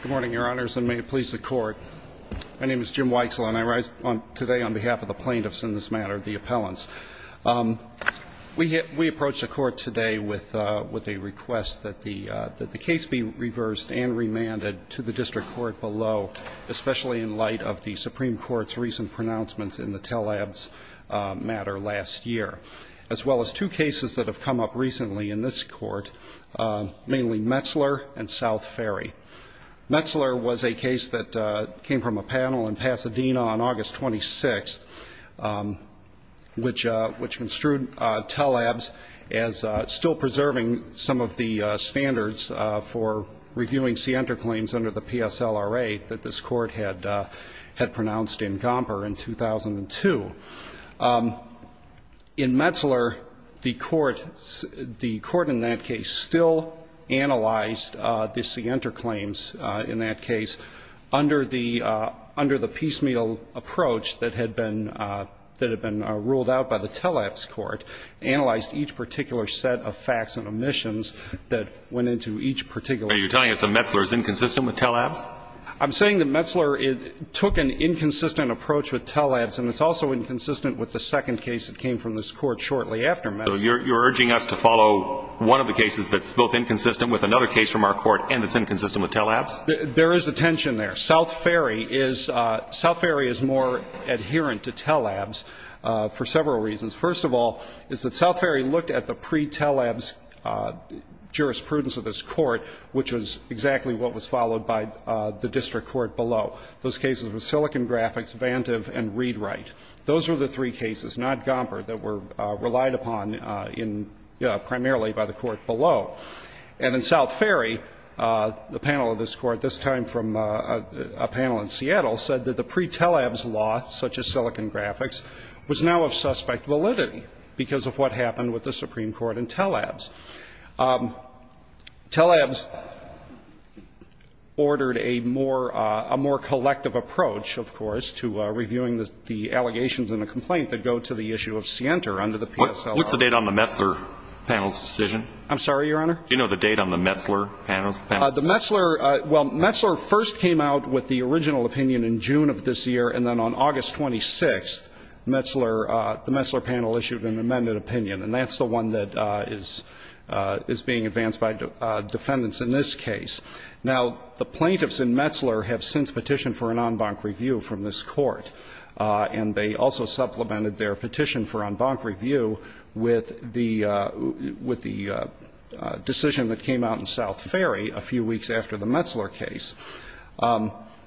Good morning, Your Honors, and may it please the Court. My name is Jim Weixler, and I rise today on behalf of the plaintiffs in this matter, the appellants. We approach the Court today with a request that the case be reversed and remanded to the District Court below, especially in light of the Supreme Court's recent pronouncements in the Telabs matter last year, as well as two cases that have come up recently in this Court, mainly Metzler and South Ferry. Metzler was a case that came from a panel in Pasadena on August 26th, which construed Telabs as still preserving some of the standards for reviewing scienter claims under the PSLRA that this Court had pronounced in Gomper in 2002. In Metzler, the Court, the Court in that case still analyzed the scienter claims in that case under the piecemeal approach that had been ruled out by the Telabs Court, analyzed each particular set of facts and omissions that went into each particular case. You're telling us that Metzler is inconsistent with Telabs? I'm saying that Metzler took an inconsistent approach with Telabs, and it's also inconsistent with the second case that came from this Court shortly after Metzler. So you're urging us to follow one of the cases that's both inconsistent with another case from our Court and that's inconsistent with Telabs? There is a tension there. South Ferry is – South Ferry is more adherent to Telabs for several reasons. First of all is that South Ferry looked at the pre-Telabs jurisprudence of this Court, which was exactly what was followed by the district court below. Those cases were Silicon Graphics, Vantive, and Readwright. Those were the three cases, not Gomper, that were relied upon in – primarily by the court below. And in South Ferry, the panel of this Court, this time from a panel in Seattle, said that the pre-Telabs law, such as Silicon Graphics, was now of suspect validity because of what happened with the Supreme Court and Telabs. Telabs ordered a more – a more collective approach, of course, to reviewing the allegations in the complaint that go to the issue of Sienter under the PSLR. What's the date on the Metzler panel's decision? I'm sorry, Your Honor? Do you know the date on the Metzler panel's decision? The Metzler – well, Metzler first came out with the original opinion in June of this year, and then on August 26th, Metzler – the Metzler panel issued an amended opinion, and that's the one that is – is being advanced by defendants in this case. Now, the plaintiffs in Metzler have since petitioned for an en banc review from this court, and they also supplemented their petition for en banc review with the – with the decision that came out in South Ferry a few weeks after the Metzler case.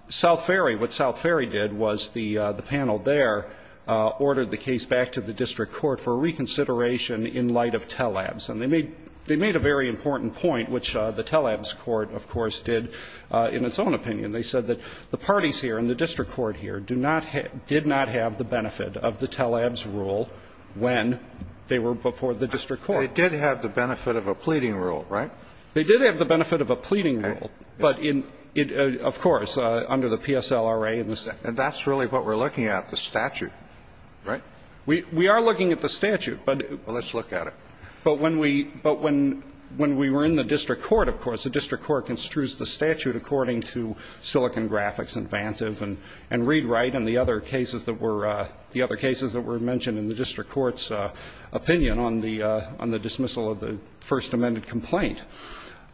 South Ferry – what South Ferry did was the – the panel there ordered the case back to the district court for reconsideration in light of TLABS. And they made – they made a very important point, which the TLABS court, of course, did in its own opinion. They said that the parties here and the district court here do not – did not have the benefit of the TLABS rule when they were before the district court. They did have the benefit of a pleading rule, right? They did have the benefit of a pleading rule, but in – of course, under the PSLRA and the statute. And that's really what we're looking at, the statute, right? We – we are looking at the statute, but – well, let's look at it. But when we – but when – when we were in the district court, of course, the district court construes the statute according to Silicon Graphics and Vancev and – and Readwright and the other cases that were – the other cases that were mentioned in the district court's opinion on the – on the dismissal of the first amended complaint.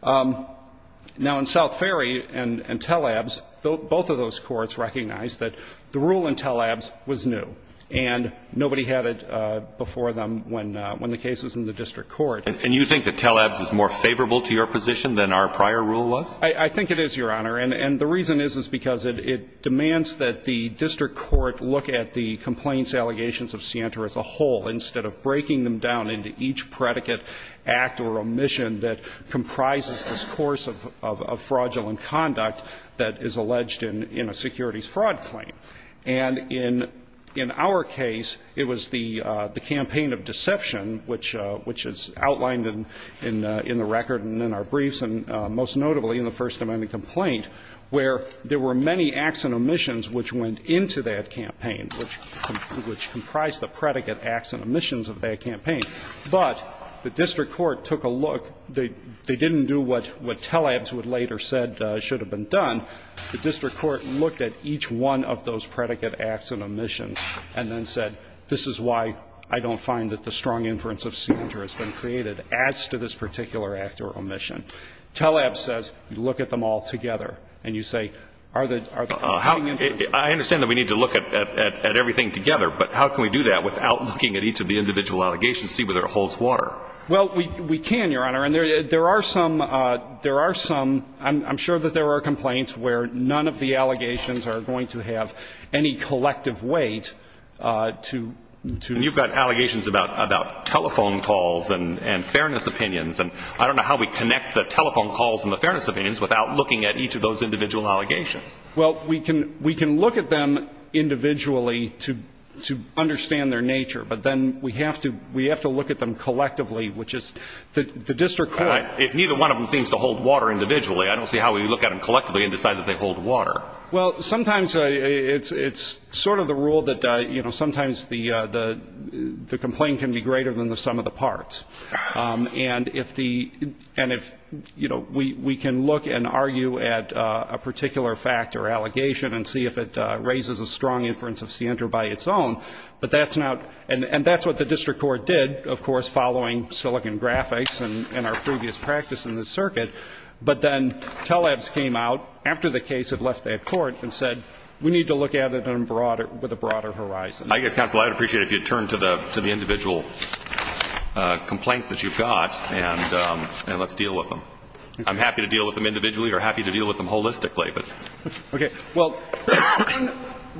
Now, in South Ferry and TLABS, both of those courts recognized that the rule in TLABS was new, and nobody had it before them when – when the case was in the district court. And you think that TLABS is more favorable to your position than our prior rule was? I think it is, Your Honor. And the reason is, is because it demands that the district court look at the complaints allegations of Sienta as a whole, instead of breaking them down into each predicate act or omission that comprises this course of fraudulent conduct that is alleged in a securities fraud claim. And in our case, it was the campaign of deception, which is outlined in the record and in our briefs, and most notably in the first amended complaint, where there were many acts and omissions which went into that campaign, which comprised the predicate acts and omissions of that campaign. But the district court took a look. They didn't do what TLABS would later said should have been done. The district court looked at each one of those predicate acts and omissions and then said, this is why I don't find that the strong inference of Sienta has been created. It adds to this particular act or omission. TLABS says, look at them all together. And you say, are the – are the – I understand that we need to look at – at everything together, but how can we do that without looking at each of the individual allegations to see whether it holds Well, we – we can, Your Honor. And there are some – there are some – I'm sure that there are complaints where none of the allegations are going to have any collective weight to – to And you've got allegations about – about telephone calls and – and fairness opinions. And I don't know how we connect the telephone calls and the fairness opinions without looking at each of those individual allegations. Well, we can – we can look at them individually to – to understand their nature, but then we have to – we have to look at them collectively, which is – the district court – If neither one of them seems to hold water individually, I don't see how we look at them collectively and decide that they hold water. Well, sometimes it's – it's sort of the rule that, you know, sometimes the – the complaint can be greater than the sum of the parts. And if the – and if, you know, we can look and argue at a particular fact or allegation and see if it raises a strong inference of Sienta by its own, but that's not – and – and that's what the district court did, of course, following Silicon Graphics and – and our previous practice in the circuit. But then TELEBS came out after the case had left that court and said, we need to look at it in broader – with a broader horizon. I guess, counsel, I'd appreciate it if you'd turn to the – to the individual complaints that you've got and – and let's deal with them. I'm happy to deal with them individually or happy to deal with them holistically, but – Okay. Well,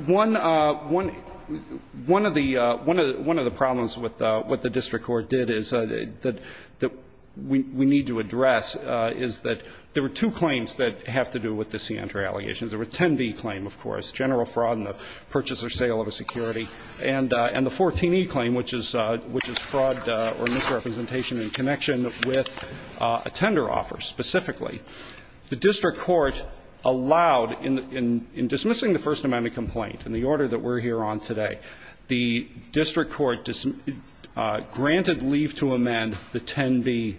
one – one – one of the – one of the problems with what the district court did is that we need to address is that there were two claims that have to do with the Sienta allegations. There were 10b claim, of course, general fraud in the purchase or sale of a security, and the 14e claim, which is – which is fraud or misrepresentation in connection with a tender offer specifically. The district court allowed in – in dismissing the First Amendment complaint and the order that we're here on today, the district court granted leave to amend the 10b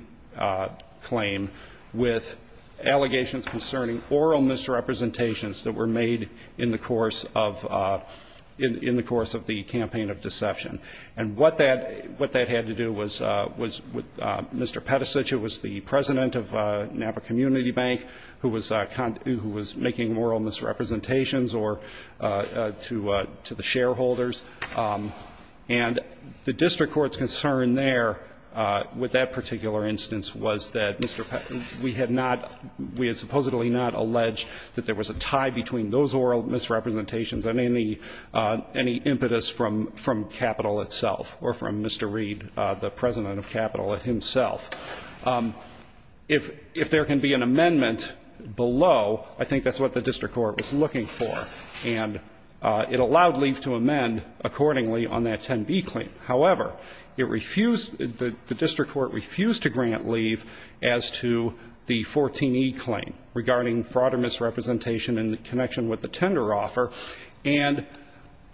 claim with allegations concerning oral misrepresentations that were made in the course of – in the course of the campaign of deception. And what that – what that had to do was – was with Mr. Peticic, who was the community bank, who was – who was making oral misrepresentations or – to – to the shareholders. And the district court's concern there with that particular instance was that Mr. Peticic – we had not – we had supposedly not alleged that there was a tie between those oral misrepresentations and any – any impetus from – from capital itself or from Mr. Reed, the president of capital himself. If – if there can be an amendment below, I think that's what the district court was looking for. And it allowed leave to amend accordingly on that 10b claim. However, it refused – the district court refused to grant leave as to the 14e claim regarding fraud or misrepresentation in connection with the tender offer. And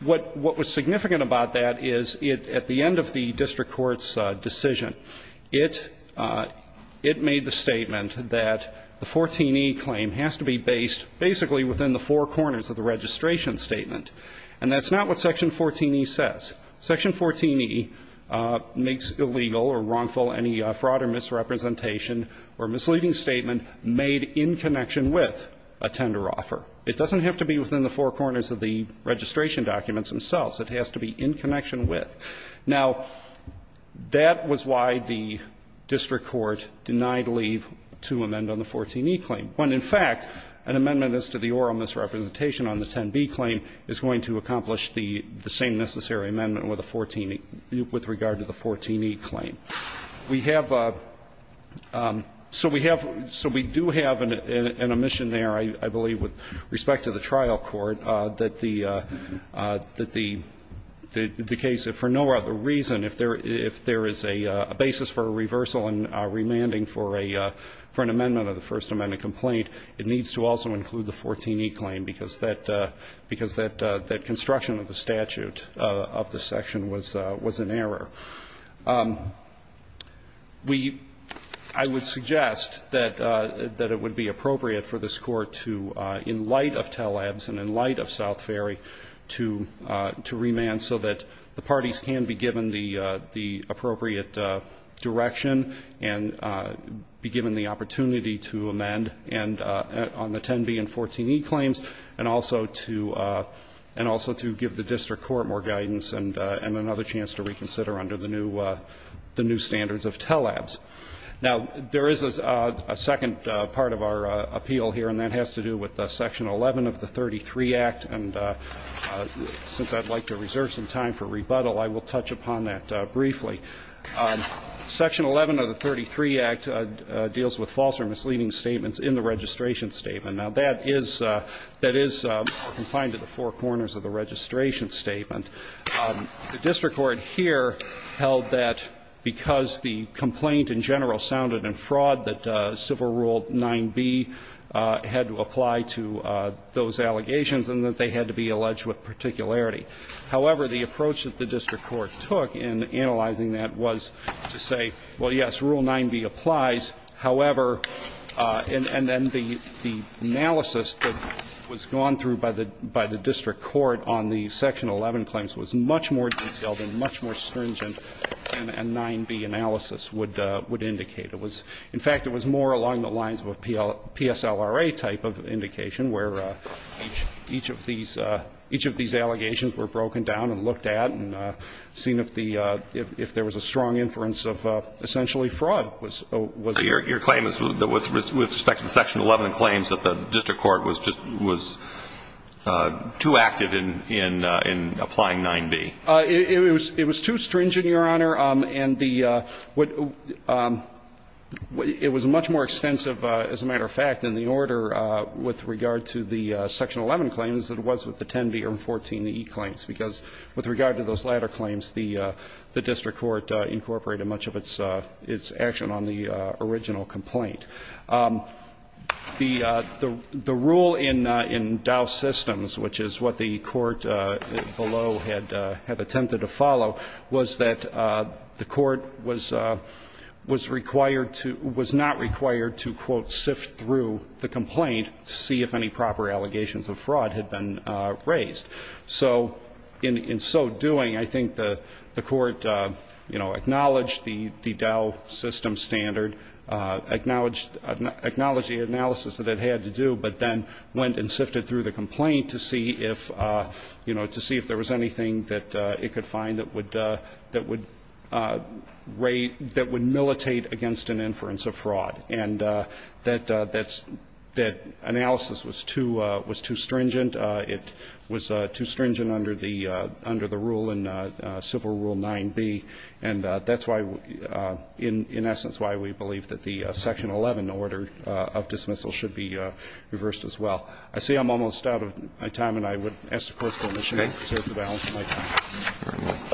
what – what was significant about that is at the end of the district court's decision, it – it made the statement that the 14e claim has to be based basically within the four corners of the registration statement. And that's not what Section 14e says. Section 14e makes illegal or wrongful any fraud or misrepresentation or misleading statement made in connection with a tender offer. It doesn't have to be within the four corners of the registration documents themselves. It has to be in connection with. Now, that was why the district court denied leave to amend on the 14e claim, when in fact an amendment as to the oral misrepresentation on the 10b claim is going to accomplish the – the same necessary amendment with the 14e – with regard to the 14e claim. We have – so we have – so we do have an omission there, I believe, with respect to the trial court, that the – that the case, if for no other reason, if there – if there is a basis for a reversal and remanding for a – for an amendment of the First Amendment complaint, it needs to also include the 14e claim, because that – because that construction of the statute of the section was an error. We – I would suggest that – that it would be appropriate for this Court to, in light of Taleb's and in light of South Ferry, to – to remand so that the parties can be given the – the appropriate direction and be given the opportunity to amend and – on the 10b and 14e claims, and also to – and also to give the district court more guidance and another chance to reconsider under the new – the new standards of Taleb's. Now, there is a second part of our appeal here, and that has to do with section 11 of the 33 Act, and since I'd like to reserve some time for rebuttal, I will touch upon that briefly. Section 11 of the 33 Act deals with false or misleading statements in the registration statement. Now, that is – that is confined to the four corners of the registration statement. The district court here held that because the complaint in general sounded in fraud, that Civil Rule 9b had to apply to those allegations and that they had to be alleged with particularity. However, the approach that the district court took in analyzing that was to say, well, yes, Rule 9b applies. However, and then the – the analysis that was gone through by the – by the district court on the section 11 claims was much more detailed and much more stringent than a 9b analysis would – would indicate. It was – in fact, it was more along the lines of a PSLRA type of indication where each of these – each of these allegations were broken down and looked at and seen if the – if there was a strong inference of essentially fraud was – was there. Your claim is that with respect to section 11 claims that the district court was just – was too active in – in applying 9b? It was too stringent, Your Honor, and the – it was much more extensive, as a matter of fact, in the order with regard to the section 11 claims than it was with the 10b or 14e claims, because with regard to those latter claims, the – the district court incorporated much of its – its action on the original complaint. The – the rule in – in Dow Systems, which is what the court below had attempted to follow, was that the court was – was required to – was not required to, quote, sift through the complaint to see if any proper allegations of fraud had been raised. So in – in so doing, I think the – the court, you know, acknowledged the – the Dow Systems standard, acknowledged – acknowledged the analysis that it had to do, but then went and sifted through the complaint to see if, you know, to see if there was anything that it could find that would – that would raise – that would militate against an inference of fraud. And that – that analysis was too – was too stringent. It was too stringent under the – under the rule in Civil Rule 9b. And that's why – in essence, why we believe that the section 11 order of dismissal should be reversed as well. I see I'm almost out of my time, and I would ask the Court's permission to reserve the balance of my time. Roberts.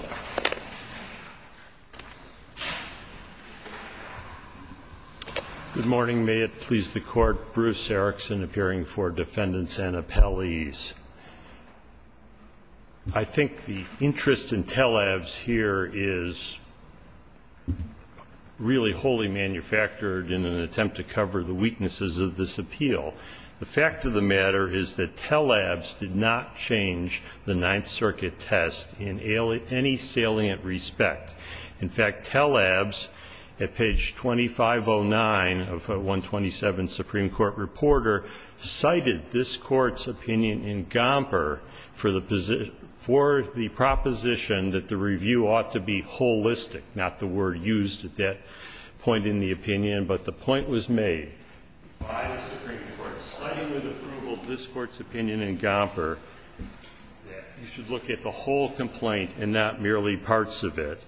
Good morning. May it please the Court. Bruce Erickson, appearing for defendants and appellees. I think the interest in Telebs here is really wholly manufactured in an attempt to cover the weaknesses of this appeal. The fact of the matter is that Telebs did not change the Ninth Circuit test in any salient respect. In fact, Telebs, at page 2509 of 127 Supreme Court Reporter, cited this Court's opinion in Gomper for the position – for the proposition that the review ought to be holistic, not the word used at that point in the opinion. But the point was made. The Supreme Court slightly with approval of this Court's opinion in Gomper that you should look at the whole complaint and not merely parts of it.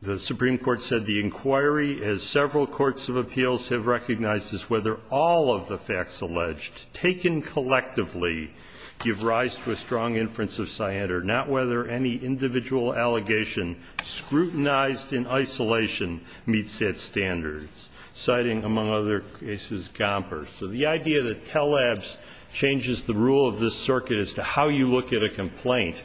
The Supreme Court said the inquiry, as several courts of appeals have recognized, is whether all of the facts alleged, taken collectively, give rise to a strong inference of scienter, not whether any individual allegation scrutinized in isolation meets that standard, citing, among other cases, Gomper. So the idea that Telebs changes the rule of this circuit as to how you look at a complaint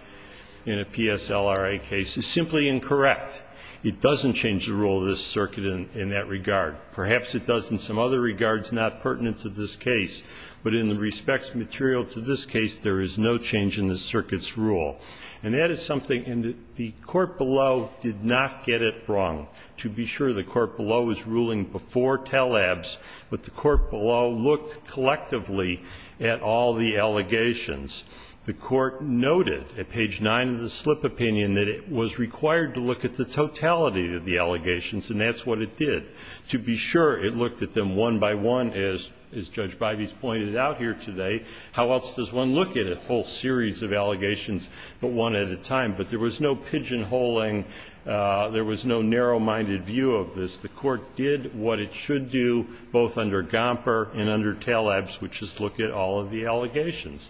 in a PSLRA case is simply incorrect. It doesn't change the rule of this circuit in that regard. Perhaps it does in some other regards not pertinent to this case, but in the respects material to this case, there is no change in the circuit's rule. And that is something – and the court below did not get it wrong. To be sure, the court below is ruling before Telebs, but the court below looked collectively at all the allegations. The Court noted at page 9 of the slip opinion that it was required to look at the totality of the allegations, and that's what it did. To be sure, it looked at them one by one, as Judge Bibas pointed out here today. How else does one look at a whole series of allegations, but one at a time? But there was no pigeonholing. There was no narrow-minded view of this. The court did what it should do, both under Gomper and under Telebs, which is look at all of the allegations.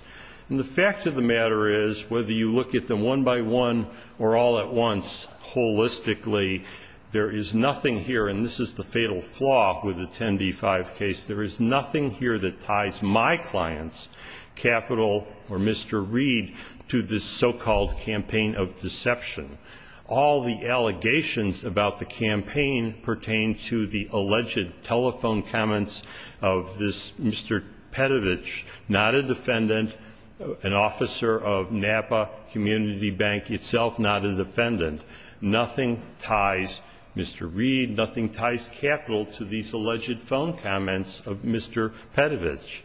And the fact of the matter is, whether you look at them one by one or all at once holistically, there is nothing here – and this is the fatal flaw with the 10b-5 case – there is nothing here that ties my clients, Capital or Mr. Reed, to this so-called campaign of deception. All the allegations about the campaign pertain to the alleged telephone comments of this Mr. Petovich, not a defendant, an officer of Napa Community Bank itself, not a defendant. Nothing ties Mr. Reed, nothing ties Capital to these alleged phone comments of Mr. Petovich.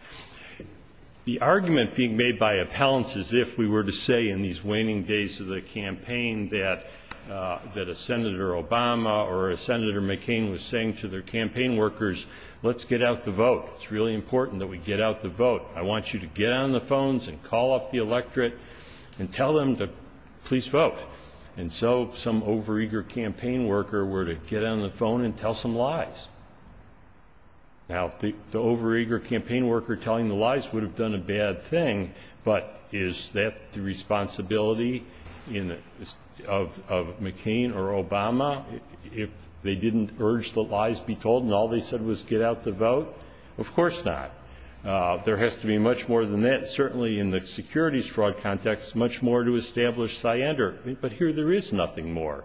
The argument being made by appellants is if we were to say in these waning days of the campaign that a Senator Obama or a Senator McCain was saying to their campaign workers, let's get out the vote. It's really important that we get out the vote. I want you to get on the phones and call up the electorate and tell them to please vote. And so some overeager campaign worker were to get on the phone and tell some lies. Now, the overeager campaign worker telling the lies would have done a bad thing, but is that the responsibility of McCain or Obama if they didn't urge the lies be told and all they said was get out the vote? Of course not. There has to be much more than that, certainly in the securities fraud context, much more to establish SIENDR, but here there is nothing more.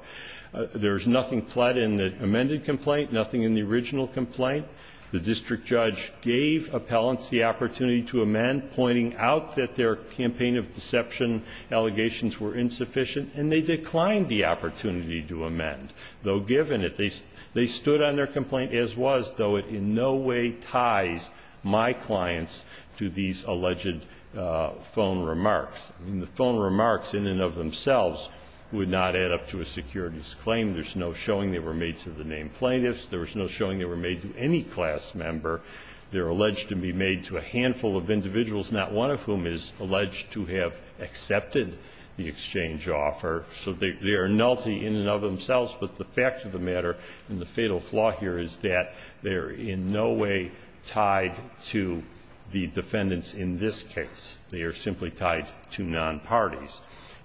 There is nothing pled in the amended complaint, nothing in the original complaint. The district judge gave appellants the opportunity to amend, pointing out that their campaign of deception allegations were insufficient, and they declined the opportunity to amend. Though given it, they stood on their complaint as was, though it in no way ties my clients to these alleged phone remarks. The phone remarks in and of themselves would not add up to a securities claim. There's no showing they were made to the named plaintiffs. There was no showing they were made to any class member. They're alleged to be made to a handful of individuals, not one of whom is alleged to have accepted the exchange offer. So they are nulty in and of themselves, but the fact of the matter and the fatal flaw here is that they are in no way tied to the defendants in this case. They are simply tied to non-parties.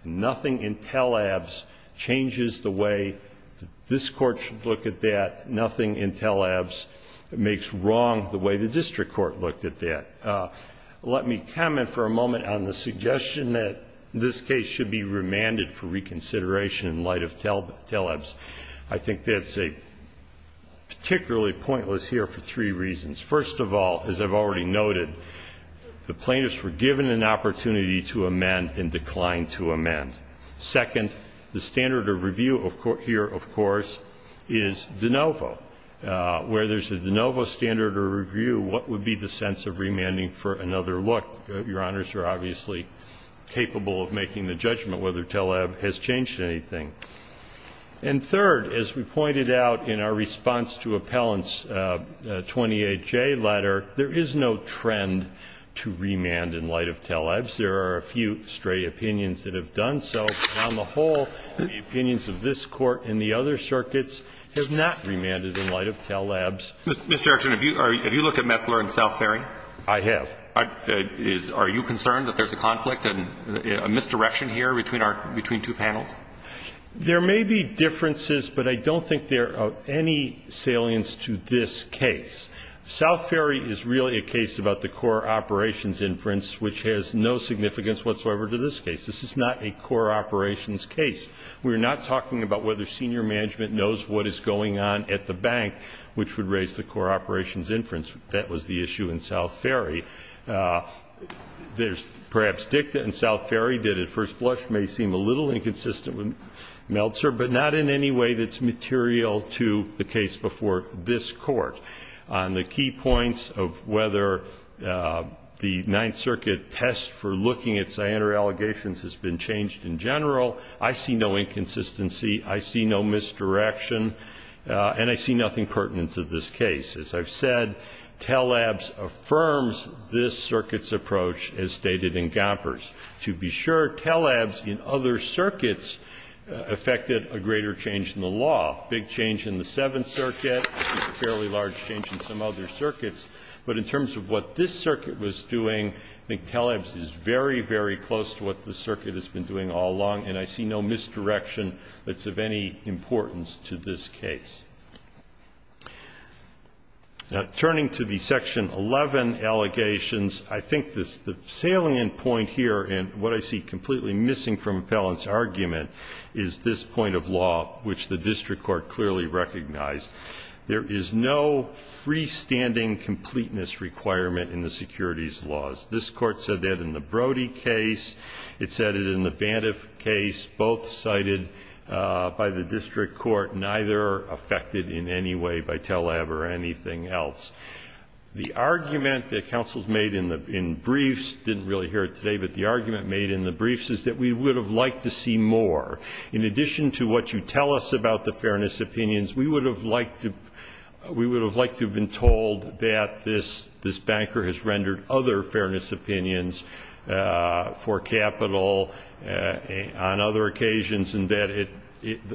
Nothing in TELABS changes the way that this Court should look at that. Nothing in TELABS makes wrong the way the district court looked at that. Let me comment for a moment on the suggestion that this case should be remanded for reconsideration in light of TELABS. I think that's a particularly pointless here for three reasons. First of all, as I've already noted, the plaintiffs were given an opportunity to amend and declined to amend. Second, the standard of review here, of course, is de novo. Where there's a de novo standard of review, what would be the sense of remanding for another look? Your Honors are obviously capable of making the judgment whether TELABS has changed anything. And third, as we pointed out in our response to Appellant's 28J letter, there is no trend to remand in light of TELABS. There are a few stray opinions that have done so. But on the whole, the opinions of this Court and the other circuits have not remanded in light of TELABS. Mr. Archuleta, have you looked at Messler and South Ferry? I have. Are you concerned that there's a conflict, a misdirection here between our two panels? There may be differences, but I don't think there are any salience to this case. South Ferry is really a case about the core operations inference, which has no significance whatsoever to this case. This is not a core operations case. We're not talking about whether senior management knows what is going on at the bank, which would raise the core operations inference. That was the issue in South Ferry. There's perhaps dicta in South Ferry that, at first blush, may seem a little inconsistent with Meltzer, but not in any way that's material to the case before this Court. On the key points of whether the Ninth Circuit test for looking at cyanide allegations has been changed in general, I see no inconsistency. I see no misdirection. And I see nothing pertinent to this case. As I've said, TELABS affirms this circuit's approach, as stated in Gompers. To be sure, TELABS in other circuits affected a greater change in the law, a big change in the Seventh Circuit, a fairly large change in some other circuits. But in terms of what this circuit was doing, I think TELABS is very, very close to what this circuit has been doing all along, and I see no misdirection that's of any importance to this case. Now, turning to the Section 11 allegations, I think the salient point here and what I see completely missing from Appellant's argument is this point of law, which the district court clearly recognized. There is no freestanding completeness requirement in the securities laws. This Court said that in the Brody case. It said it in the Vantive case, both cited by the district court, neither affected in any way by TELABS or anything else. The argument that counsels made in briefs, didn't really hear it today, but the argument made in the briefs is that we would have liked to see more. In addition to what you tell us about the fairness opinions, we would have liked to have been told that this banker has rendered other fairness opinions for capital on other occasions and that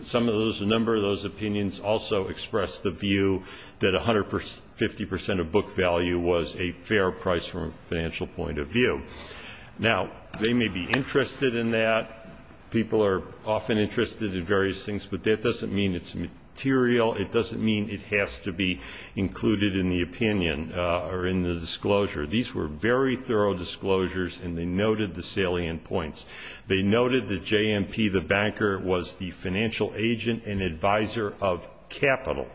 some of those, a number of those opinions, also express the view that 150 percent of book value was a fair price from a financial point of view. Now, they may be interested in that. People are often interested in various things, but that doesn't mean it's material. It doesn't mean it has to be included in the opinion or in the disclosure. These were very thorough disclosures, and they noted the salient points. They noted that JMP, the banker, was the financial agent and advisor of capital,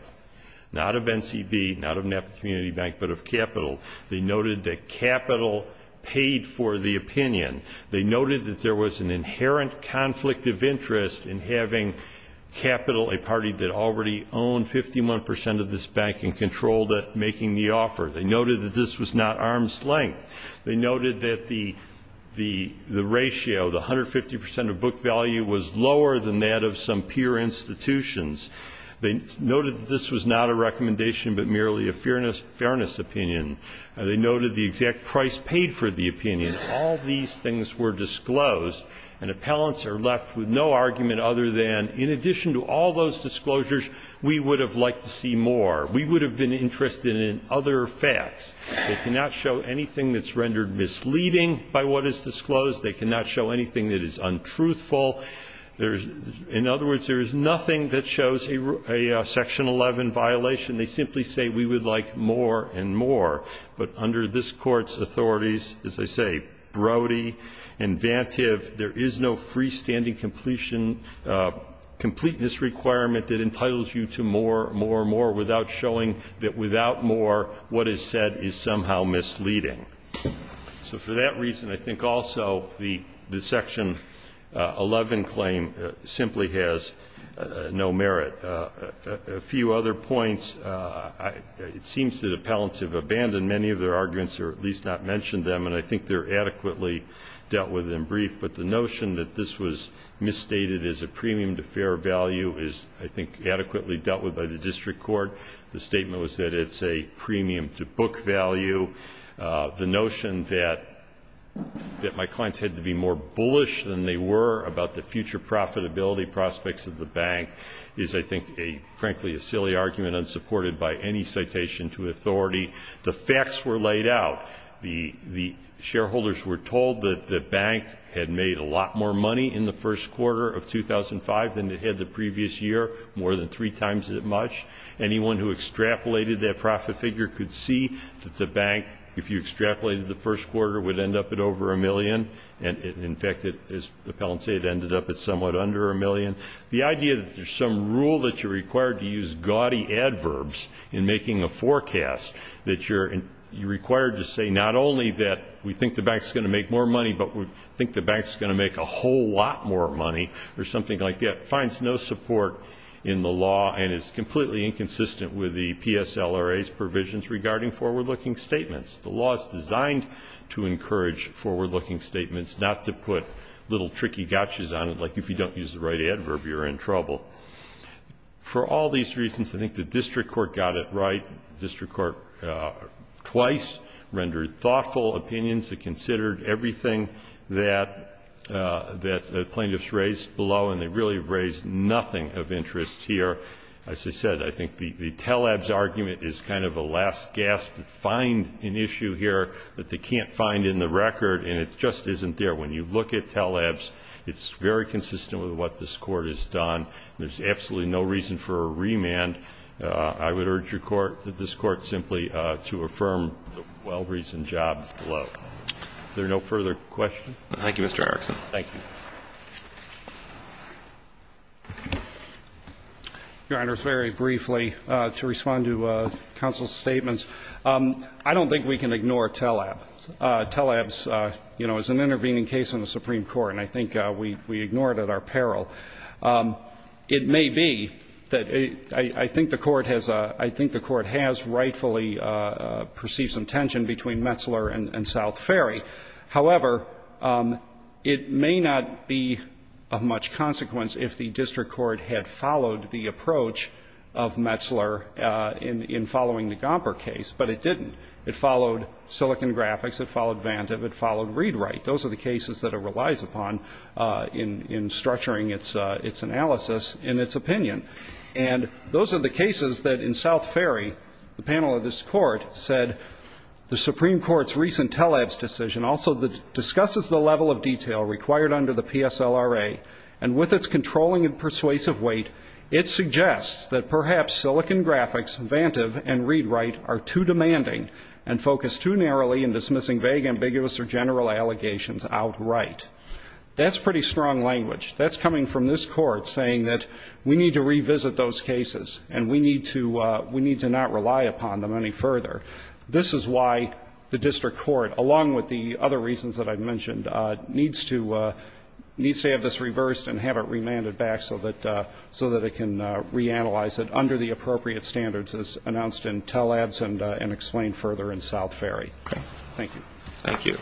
not of NCB, not of Napa Community Bank, but of capital. They noted that capital paid for the opinion. They noted that there was an inherent conflict of interest in having capital, a party that already owned 51 percent of this bank and controlled it making the offer. They noted that this was not arm's length. They noted that the ratio, the 150 percent of book value, was lower than that of some peer institutions. They noted that this was not a recommendation but merely a fairness opinion. They noted the exact price paid for the opinion. All these things were disclosed, and appellants are left with no argument other than, in addition to all those disclosures, we would have liked to see more. We would have been interested in other facts. They cannot show anything that's rendered misleading by what is disclosed. They cannot show anything that is untruthful. In other words, there is nothing that shows a Section 11 violation. They simply say we would like more and more. But under this Court's authorities, as I say, Brody and Vantive, there is no freestanding completeness requirement that entitles you to more, more, without showing that without more, what is said is somehow misleading. So for that reason, I think also the Section 11 claim simply has no merit. A few other points. It seems that appellants have abandoned many of their arguments or at least not mentioned them, and I think they're adequately dealt with in brief. But the notion that this was misstated as a premium to fair value is, I think, The statement was that it's a premium to book value. The notion that my clients had to be more bullish than they were about the future profitability prospects of the bank is, I think, frankly, a silly argument unsupported by any citation to authority. The facts were laid out. The shareholders were told that the bank had made a lot more money in the first quarter of 2005 than it had the previous year, more than three times as much. Anyone who extrapolated that profit figure could see that the bank, if you extrapolated the first quarter, would end up at over a million. And, in fact, as appellants say, it ended up at somewhat under a million. The idea that there's some rule that you're required to use gaudy adverbs in making a forecast, that you're required to say not only that we think the bank's going to make more money, but we think the bank's going to make a whole lot more money, or something like that, finds no support in the law and is completely inconsistent with the PSLRA's provisions regarding forward-looking statements. The law is designed to encourage forward-looking statements, not to put little tricky gotchas on it, like if you don't use the right adverb, you're in trouble. For all these reasons, I think the district court got it right. The district court twice rendered thoughtful opinions. It considered everything that the plaintiffs raised below, and they really have raised nothing of interest here. As I said, I think the telebs argument is kind of a last gasp to find an issue here that they can't find in the record, and it just isn't there. When you look at telebs, it's very consistent with what this Court has done. There's absolutely no reason for a remand. I would urge this Court simply to affirm the well-reasoned job below. Is there no further questions? Thank you, Mr. Erickson. Thank you. Your Honors, very briefly, to respond to counsel's statements. I don't think we can ignore telebs. Telebs is an intervening case in the Supreme Court, and I think we ignore it at our peril. It may be that I think the Court has rightfully perceived some tension between Metzler and South Ferry. However, it may not be of much consequence if the district court had followed the approach of Metzler in following the Gomper case, but it didn't. It followed Silicon Graphics. It followed Vantive. It followed Readwright. Those are the cases that it relies upon in structuring its analysis and its opinion. And those are the cases that in South Ferry, the panel of this Court said the Supreme Court's recent telebs decision also discusses the level of detail required under the PSLRA, and with its controlling and persuasive weight, it suggests that perhaps Silicon Graphics, Vantive, and Readwright are too demanding and focused too narrowly in dismissing vague, ambiguous, or general allegations outright. That's pretty strong language. That's coming from this Court saying that we need to revisit those cases and we need to not rely upon them any further. This is why the district court, along with the other reasons that I've mentioned, needs to have this reversed and have it remanded back so that it can reanalyze it under the appropriate standards as announced in telebs and explained further in South Ferry. Okay. Thank you.